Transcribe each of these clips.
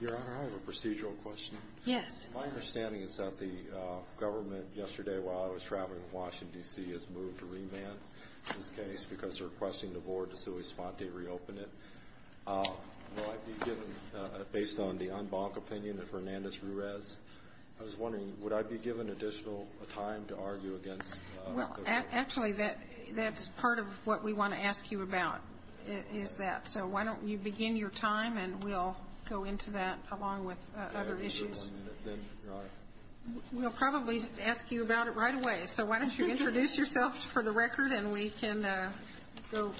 Your Honor, I have a procedural question. Yes. My understanding is that the government yesterday, while I was traveling in Washington, D.C., has moved to remand this case because they're requesting the board to sui sponte reopen it. Will I be given, based on the en banc opinion of Hernandez-Ruiz, I was wondering, would I be given additional time to argue against the remand? Actually, that's part of what we want to ask you about, is that. So why don't you begin your time, and we'll go into that along with other issues. We'll probably ask you about it right away. So why don't you introduce yourself for the record, and we can go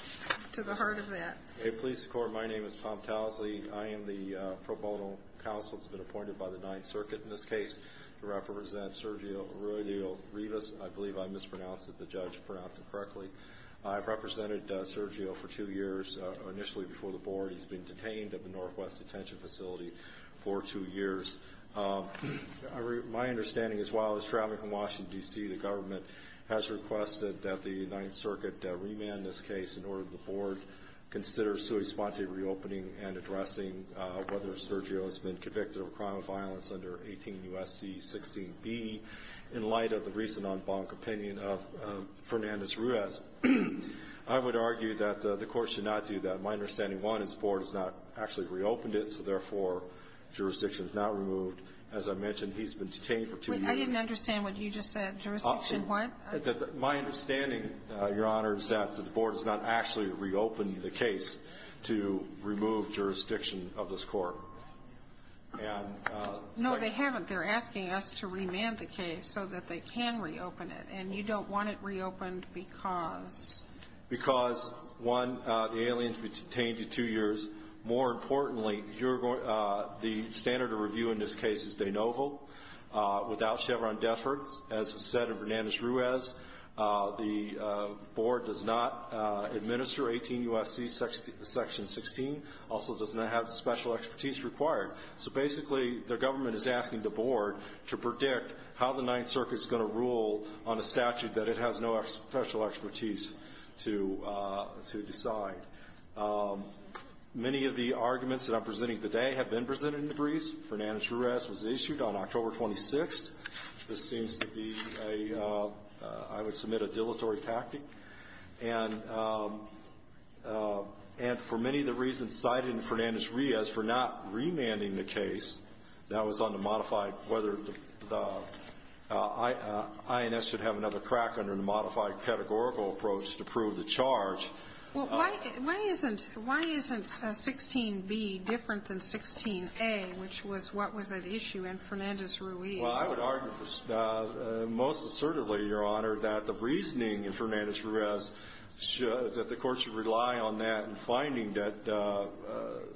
to the heart of that. Hey, police corps. My name is Tom Towsley. I am the pro bono counsel that's been appointed by the Ninth Circuit in this case to represent Sergio Arriola-Rivas. I believe I mispronounced it. The judge pronounced it correctly. I've represented Sergio for two years, initially before the board. He's been detained at the Northwest Detention Facility for two years. My understanding is, while I was traveling from Washington, D.C., the government has requested that the Ninth Circuit remand this case in order for the board to consider sui sponte reopening and addressing whether Sergio has been convicted of a crime of violence under 18 U.S.C. 16b. In light of the recent en banc opinion of Fernandez-Ruiz, I would argue that the court should not do that. My understanding, one, is the board has not actually reopened it, so, therefore, jurisdiction is not removed. As I mentioned, he's been detained for two years. I didn't understand what you just said. Jurisdiction what? My understanding, Your Honor, is that the board has not actually reopened the case to remove jurisdiction of this court. No, they haven't. They're asking us to remand the case so that they can reopen it. And you don't want it reopened because? Because, one, the alien has been detained for two years. More importantly, the standard of review in this case is de novo, without Chevron death row. As was said in Fernandez-Ruiz, the board does not administer 18 U.S.C. section 16, also does not have special expertise required. So, basically, the government is asking the board to predict how the Ninth Circuit is going to rule on a statute that it has no special expertise to decide. Many of the arguments that I'm presenting today have been presented in the briefs. Fernandez-Ruiz was issued on October 26th. This seems to be, I would submit, a dilatory tactic. And for many of the reasons cited in Fernandez-Ruiz, for not remanding the case, that was on the modified, whether the INS should have another crack under the modified pedagogical approach to prove the charge. Well, why isn't 16b different than 16a, which was what was at issue in Fernandez-Ruiz? Well, I would argue, most assertively, Your Honor, that the reasoning in Fernandez-Ruiz should, that the Court should rely on that in finding that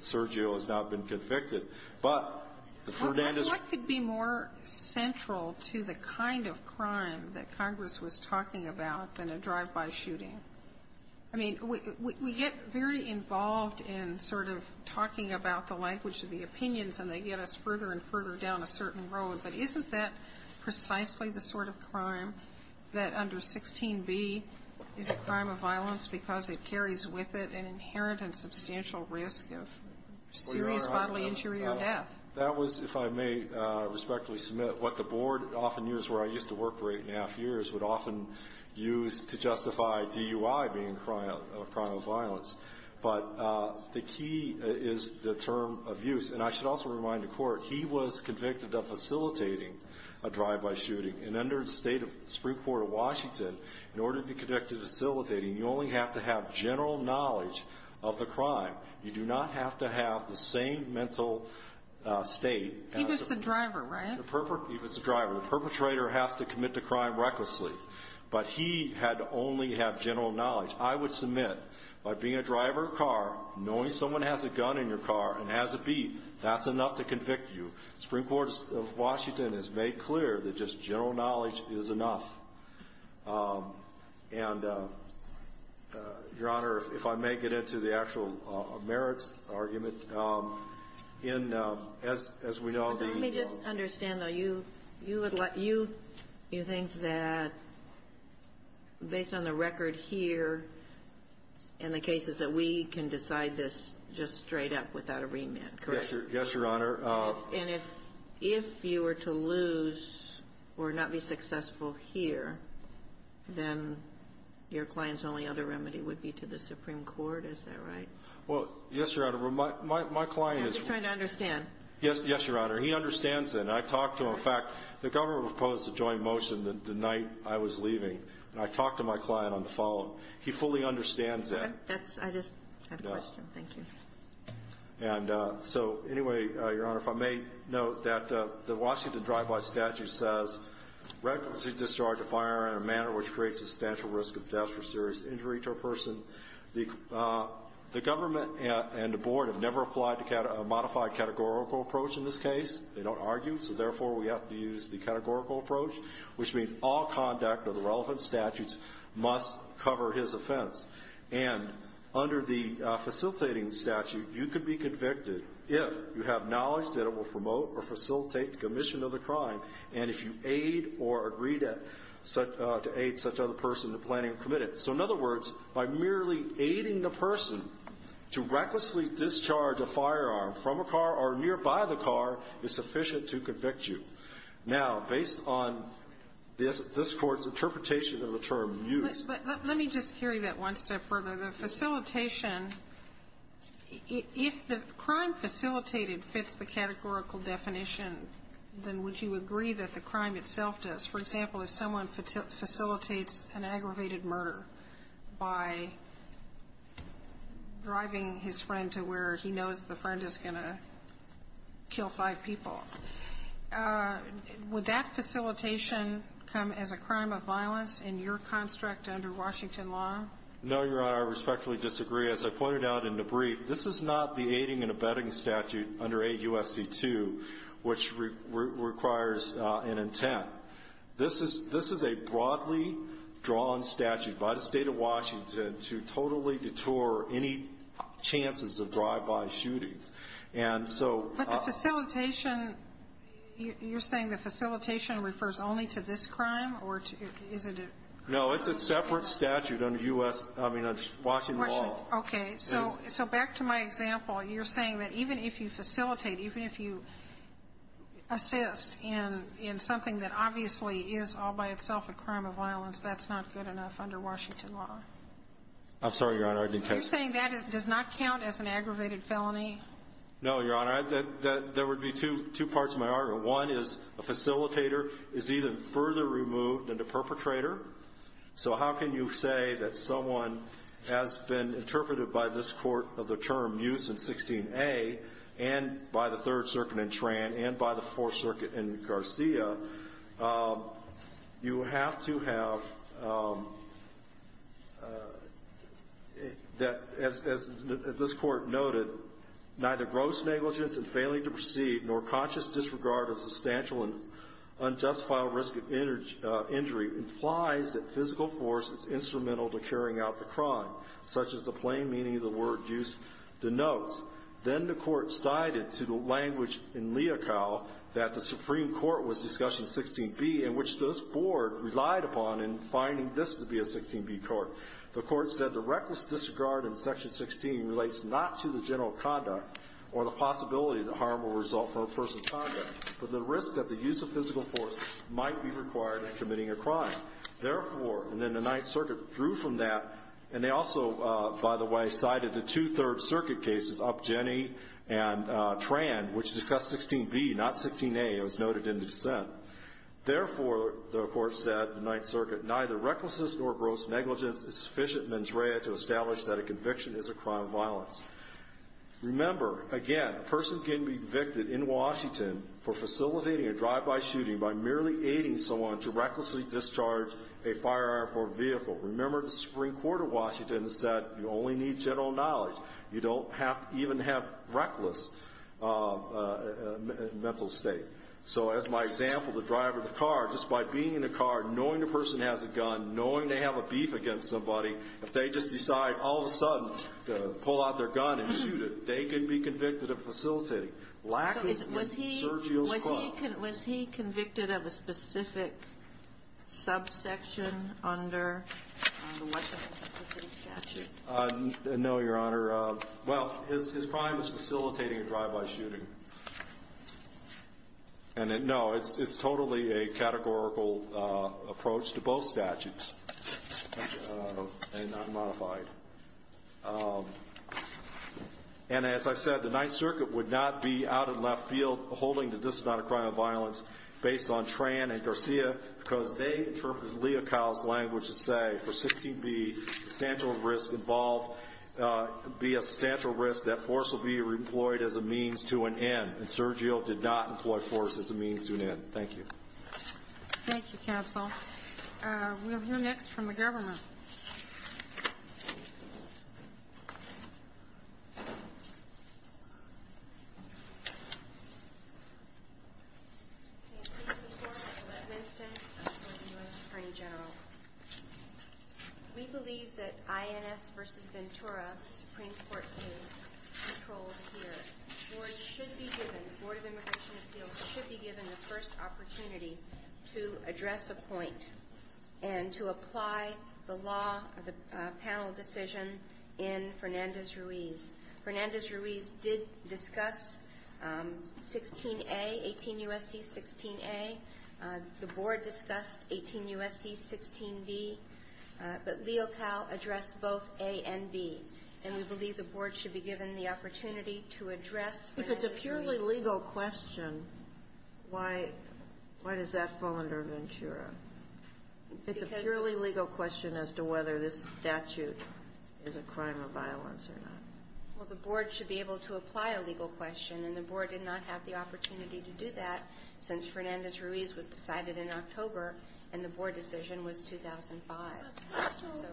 Sergio has not been convicted. But the Fernandez- Well, what could be more central to the kind of crime that Congress was talking about than a drive-by shooting? I mean, we get very involved in sort of talking about the language of the opinions, and they get us further and further down a certain road. But isn't that precisely the sort of crime that under 16b is a crime of violence because it carries with it an inherent and substantial risk of serious bodily injury or death? That was, if I may respectfully submit, what the Board, often years where I used to work, 8 1⁄2 years, would often use to justify DUI being a crime of violence. But the key is the term abuse. And I should also remind the Court, he was convicted of facilitating a drive-by shooting. And under the State of the Supreme Court of Washington, in order to be convicted of facilitating, you only have to have general knowledge of the crime. You do not have to have the same mental state as the- He was the driver, right? He was the driver. The perpetrator has to commit the crime recklessly. But he had to only have general knowledge. I would submit, by being a driver of a car, knowing someone has a gun in your car and has a beat, that's enough to convict you. The Supreme Court of Washington has made clear that just general knowledge is enough. And, Your Honor, if I may get into the actual merits argument. In, as we know, the- Based on the record here and the cases that we can decide this just straight up without a remit, correct? Yes, Your Honor. And if you were to lose or not be successful here, then your client's only other remedy would be to the Supreme Court? Is that right? Well, yes, Your Honor. My client is- I'm just trying to understand. Yes, Your Honor. He understands that. And I talked to him. In fact, the government proposed a joint motion the night I was leaving. And I talked to my client on the phone. He fully understands that. That's- I just have a question. Thank you. And so, anyway, Your Honor, if I may note that the Washington Drive-By Statute says recklessly discharge a firearm in a manner which creates a substantial risk of death or serious injury to a person. The government and the board have never applied a modified categorical approach in this case. They don't argue. So, therefore, we have to use the categorical approach, which means all conduct of the relevant statutes must cover his offense. And under the facilitating statute, you could be convicted if you have knowledge that it will promote or facilitate the commission of the crime and if you aid or agree to aid such other person in the planning of the committee. So, in other words, by merely aiding the person to recklessly discharge a firearm from a car or nearby the car is sufficient to convict you. Now, based on this Court's interpretation of the term used- But let me just carry that one step further. The facilitation, if the crime facilitated fits the categorical definition, then would you agree that the crime itself does? For example, if someone facilitates an aggravated murder by driving his friend to where he knows the friend is going to kill five people, would that facilitation come as a crime of violence in your construct under Washington law? No, Your Honor. I respectfully disagree. As I pointed out in the brief, this is not the aiding and abetting statute under AUSC 2, which requires an intent. This is a broadly drawn statute by the State of Washington to totally detour any chances of drive-by shootings. And so- But the facilitation, you're saying the facilitation refers only to this crime, or is it a- No. It's a separate statute under U.S. I mean, Washington law. Okay. So back to my example, you're saying that even if you facilitate, even if you assist in something that obviously is all by itself a crime of violence, that's not good enough under Washington law? I'm sorry, Your Honor. I didn't catch that. You're saying that does not count as an aggravated felony? No, Your Honor. That would be two parts of my argument. One is a facilitator is either further removed than the perpetrator. So how can you say that someone has been interpreted by this Court of the term used in 16a and by the Third Circuit in Tran and by the Fourth Circuit in Garcia, you have to have, as this Court noted, neither gross negligence in failing to proceed nor conscious disregard of substantial and unjustified risk of injury implies that physical force is instrumental to carrying out the crime, such as the plain meaning of the word used denotes. Then the Court cited to the language in Leocal that the Supreme Court was discussing 16b, in which this Board relied upon in finding this to be a 16b court. The Court said the reckless disregard in Section 16 relates not to the general conduct or the possibility that harm will result from a person's conduct, but the risk that the use of physical force might be required in committing a crime. Therefore, and then the Ninth Circuit drew from that, and they also, by the way, cited the two Third Circuit cases, Upjenny and Tran, which discussed 16b, not 16a. It was noted in the dissent. Therefore, the Court said, the Ninth Circuit, neither recklessness nor gross negligence is sufficient mens rea to establish that a conviction is a crime of violence. Remember, again, a person can be convicted in Washington for facilitating a drive-by shooting by merely aiding someone to recklessly discharge a fire airport vehicle. Remember, the Supreme Court of Washington said you only need general knowledge. You don't have to even have reckless mental state. So as my example, the driver of the car, just by being in the car, knowing the person has a gun, knowing they have a beef against somebody, if they just decide all of a sudden to pull out their gun and shoot it, they could be convicted of facilitating. Lack of Sergio's quote. Was he convicted of a specific subsection under the Washington city statute? No, Your Honor. Well, his crime is facilitating a drive-by shooting. And no, it's totally a categorical approach to both statutes, and not modified. And as I've said, the Ninth Circuit would not be out in left field holding the position on a crime of violence based on Tran and Garcia, because they interpreted Leo Kyle's language to say for 16B, substantial risk involved, be a substantial risk, that force will be employed as a means to an end. And Sergio did not employ force as a means to an end. Thank you. Thank you, counsel. We'll hear next from the governor. We believe that INS versus Ventura Supreme Court is controlled here. The Board of Immigration Appeals should be given the first opportunity to address a point and to apply the law of the panel decision in Fernandez-Ruiz. Fernandez-Ruiz did discuss 16A, 18 U.S.C., 16A. The Board discussed 18 U.S.C., 16B. But Leo Kyle addressed both A and B. And we believe the Board should be given the opportunity to address Fernandez-Ruiz legal question, why does that fall under Ventura? It's a purely legal question as to whether this statute is a crime of violence or not. Well, the Board should be able to apply a legal question, and the Board did not have the opportunity to do that since Fernandez-Ruiz was decided in October and the Board decision was 2005. So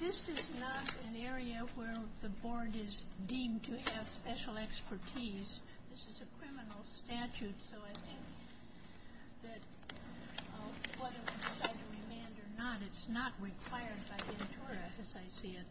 this is not an area where the Board is deemed to have special expertise. This is a criminal statute. So I think that whether we decide to remand or not, it's not required by Ventura, as I see it.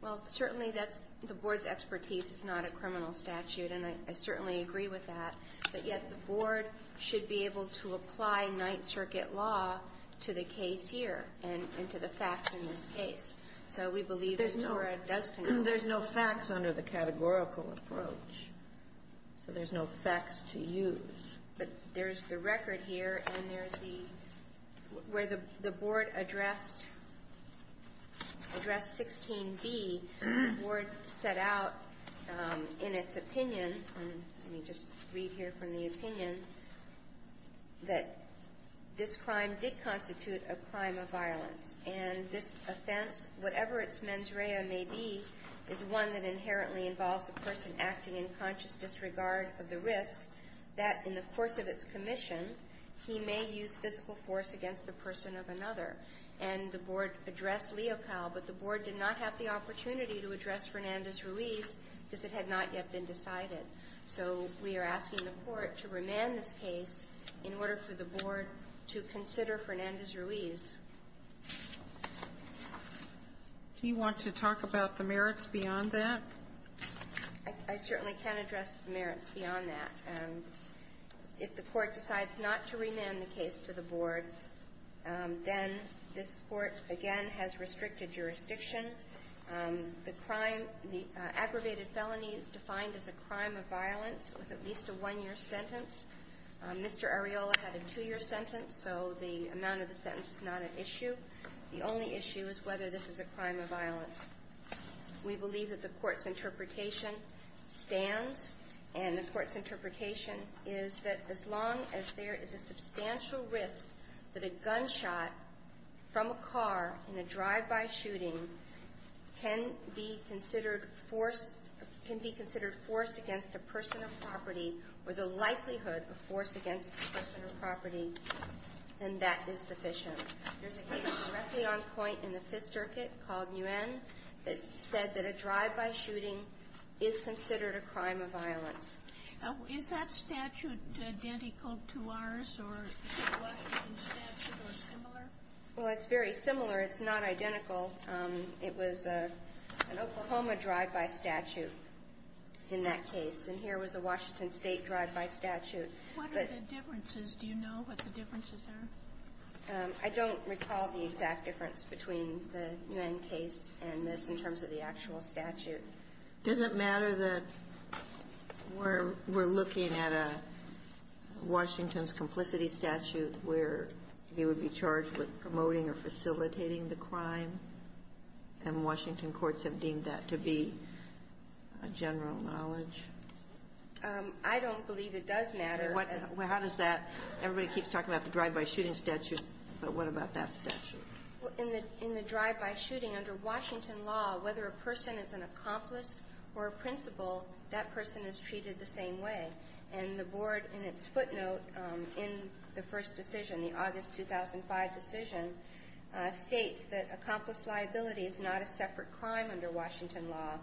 Well, certainly that's the Board's expertise. It's not a criminal statute, and I certainly agree with that. But yet the Board should be able to apply Ninth Circuit law to the case here and to the facts in this case. So we believe Ventura does control. There's no facts under the categorical approach, so there's no facts to use. But there's the record here, and there's the ñ where the Board addressed 16b, the Board set out in its opinion, let me just read here from the opinion, that this crime did constitute a crime of violence, and this offense, whatever its mens rea may be, is one that inherently involves a person acting in conscious disregard of the risk, that in the course of its commission, he may use physical force against the person of another. And the Board addressed Leocal, but the Board did not have the opportunity to address Fernandez-Ruiz because it had not yet been decided. So we are asking the Court to remand this case in order for the Board to consider Fernandez-Ruiz. Do you want to talk about the merits beyond that? I certainly can address the merits beyond that. If the Court decides not to remand the case to the Board, then this Court, again, has restricted jurisdiction. The crime ñ the aggravated felony is defined as a crime of violence with at least a one-year sentence. Mr. Areola had a two-year sentence, so the amount of the sentence is not an issue. The only issue is whether this is a crime of violence. We believe that the Courtís interpretation stands, and the Courtís interpretation is that as long as there is a substantial risk that a gunshot from a car in a drive-by shooting can be considered force ñ can be considered force against a person of property or the likelihood of force against a person of property, then that is sufficient. Thereís a case directly on point in the Fifth Circuit called Nguyen that said that a drive-by shooting is considered a crime of violence. Is that statute identical to ours, or is the Washington statute similar? Well, itís very similar. Itís not identical. It was an Oklahoma drive-by statute in that case. And here was a Washington State drive-by statute. What are the differences? Do you know what the differences are? I donít recall the exact difference between the Nguyen case and this in terms of the actual statute. Does it matter that weíre ñ weíre looking at a Washingtonís complicity statute where he would be charged with promoting or facilitating the crime? And Washington courts have deemed that to be a general knowledge. I donít believe it does matter. Well, how does that ñ everybody keeps talking about the drive-by shooting statute, but what about that statute? In the drive-by shooting, under Washington law, whether a person is an accomplice or a principal, that person is treated the same way. And the board, in its footnote in the first decision, the August 2005 decision, states that accomplice liability is not a separate crime under Washington law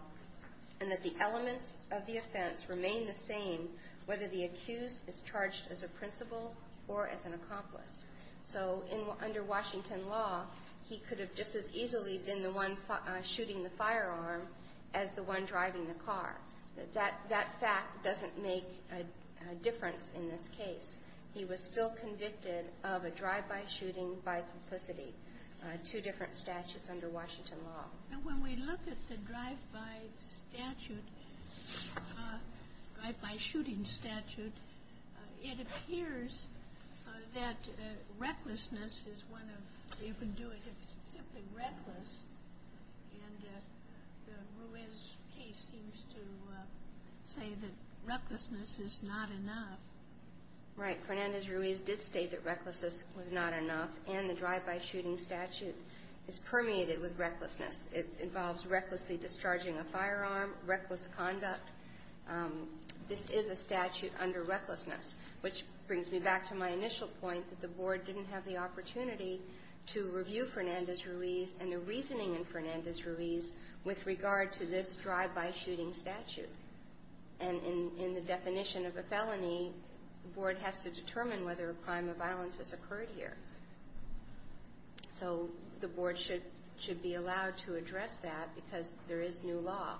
and that the elements of the offense remain the same whether the accused is charged as a principal or as an accomplice. So under Washington law, he could have just as easily been the one shooting the firearm as the one driving the car. That fact doesnít make a difference in this case. He was still convicted of a drive-by shooting by complicity, two different statutes under Washington law. And when we look at the drive-by statute, drive-by shooting statute, it appears that recklessness is one of the ñ you can do it if itís simply reckless. And the Ruiz case seems to say that recklessness is not enough. Right. Fernandez-Ruiz did state that recklessness was not enough, and the drive-by shooting statute is permeated with recklessness. It involves recklessly discharging a firearm, reckless conduct. This is a statute under recklessness, which brings me back to my initial point that the board didnít have the opportunity to review Fernandez-Ruiz and the reasoning in Fernandez-Ruiz with regard to this drive-by shooting statute. And in the definition of a felony, the board has to determine whether a crime of violence has occurred here. So the board should be allowed to address that because there is new law.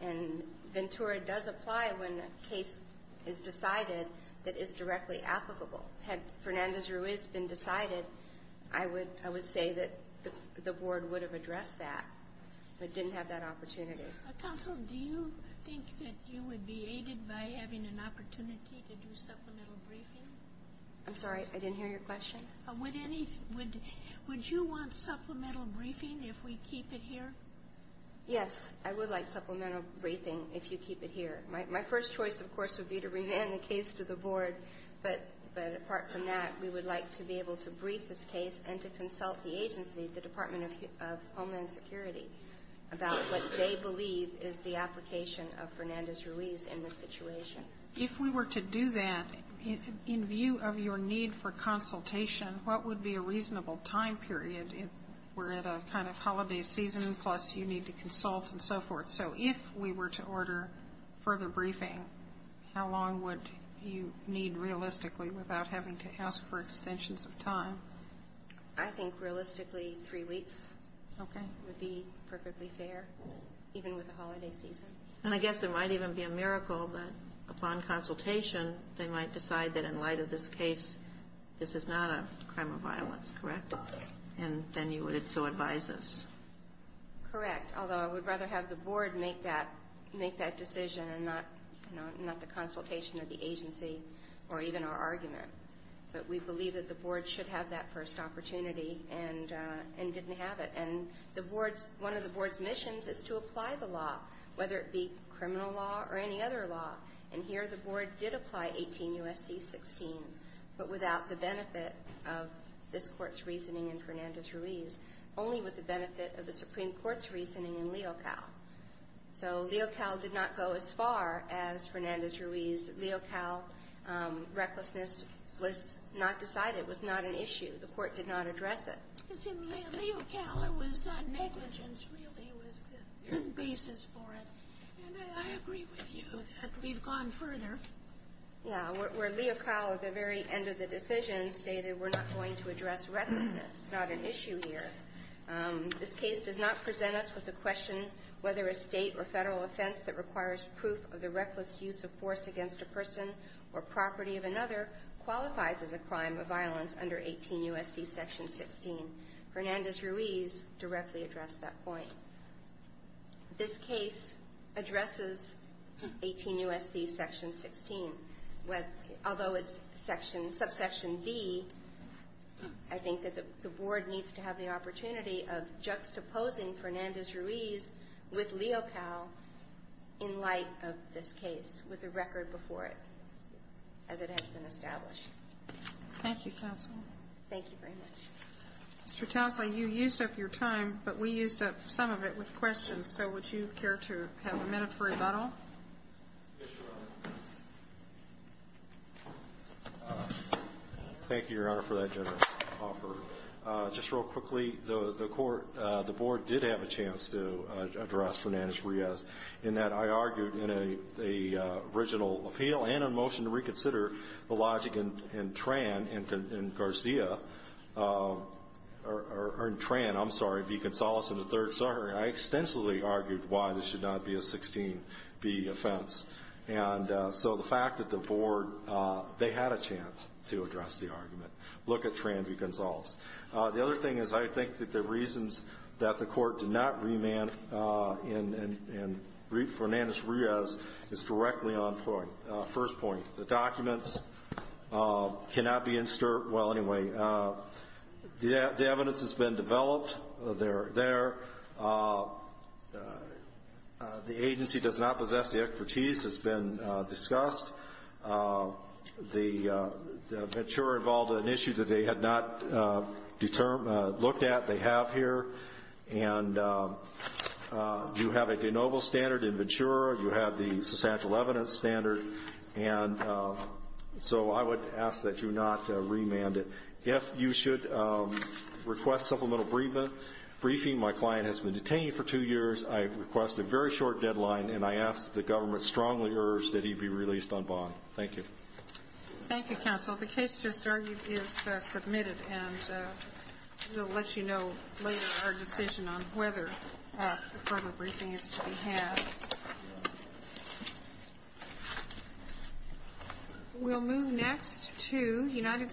And Ventura does apply when a case is decided that is directly applicable. Had Fernandez-Ruiz been decided, I would say that the board would have addressed that, but didnít have that opportunity. Counsel, do you think that you would be aided by having an opportunity to do supplemental briefing? Iím sorry. I didnít hear your question. Would any ñ would you want supplemental briefing if we keep it here? Yes. I would like supplemental briefing if you keep it here. My first choice, of course, would be to remand the case to the board. But apart from that, we would like to be able to brief this case and to consult the agency, the Department of Homeland Security, about what they believe is the application of Fernandez-Ruiz in this situation. If we were to do that, in view of your need for consultation, what would be a reasonable time period if weíre at a kind of holiday season, plus you need to consult and so forth? So if we were to order further briefing, how long would you need realistically without having to ask for extensions of time? I think realistically three weeks would be perfectly fair, even with the holiday season. And I guess there might even be a miracle that upon consultation they might decide that in light of this case this is not a crime of violence, correct? And then you would so advise us. Correct. Although I would rather have the board make that decision and not the consultation of the agency or even our argument. But we believe that the board should have that first opportunity and didnít have it. And one of the boardís missions is to apply the law, whether it be criminal law or any other law. And here the board did apply 18 U.S.C. 16, but without the benefit of this courtís reasoning in Fernandez-Ruiz, only with the benefit of the Supreme Courtís reasoning in Leocal. So Leocal did not go as far as Fernandez-Ruiz. Leocal recklessness was not decided. It was not an issue. The court did not address it. Leocal, it was negligence really was the basis for it. And I agree with you that weíve gone further. Yeah. Where Leocal at the very end of the decision stated weíre not going to address recklessness. Itís not an issue here. This case does not present us with a question whether a State or Federal offense that requires proof of the reckless use of force against a person or property of another qualifies as a crime of violence under 18 U.S.C. section 16. Fernandez-Ruiz directly addressed that point. This case addresses 18 U.S.C. section 16. Although itís subsection B, I think that the board needs to have the opportunity of juxtaposing Fernandez-Ruiz with Leocal in light of this case with the record before it as it has been established. Thank you, counsel. Thank you very much. Mr. Towsley, you used up your time, but we used up some of it with questions. So would you care to have a minute for rebuttal? Yes, Your Honor. Thank you, Your Honor, for that generous offer. Just real quickly, the court ñ the board did have a chance to address Fernandez-Ruiz in that I argued in an original appeal and a motion to reconsider the logic in Tran and Garcia ñ or in Tran, Iím sorry, V. Gonzales in the third. Sorry. I extensively argued why this should not be a 16B offense. And so the fact that the board ñ they had a chance to address the argument. Look at Tran, V. Gonzales. The other thing is I think that the reasons that the court did not remand Fernandez-Ruiz is directly on point. First point, the documents cannot be in stir ñ well, anyway, the evidence has been developed. Theyíre there. The agency does not possess the expertise. Itís been discussed. Ventura involved an issue that they had not looked at. They have here. And you have a de novo standard in Ventura. You have the substantial evidence standard. And so I would ask that you not remand it. If you should request supplemental briefing, my client has been detained for two years. I request a very short deadline. And I ask that the government strongly urge that he be released on bond. Thank you. Thank you, counsel. The case just argued is submitted. And weíll let you know later our decision on whether a further briefing is to be had. Weíll move next to United States.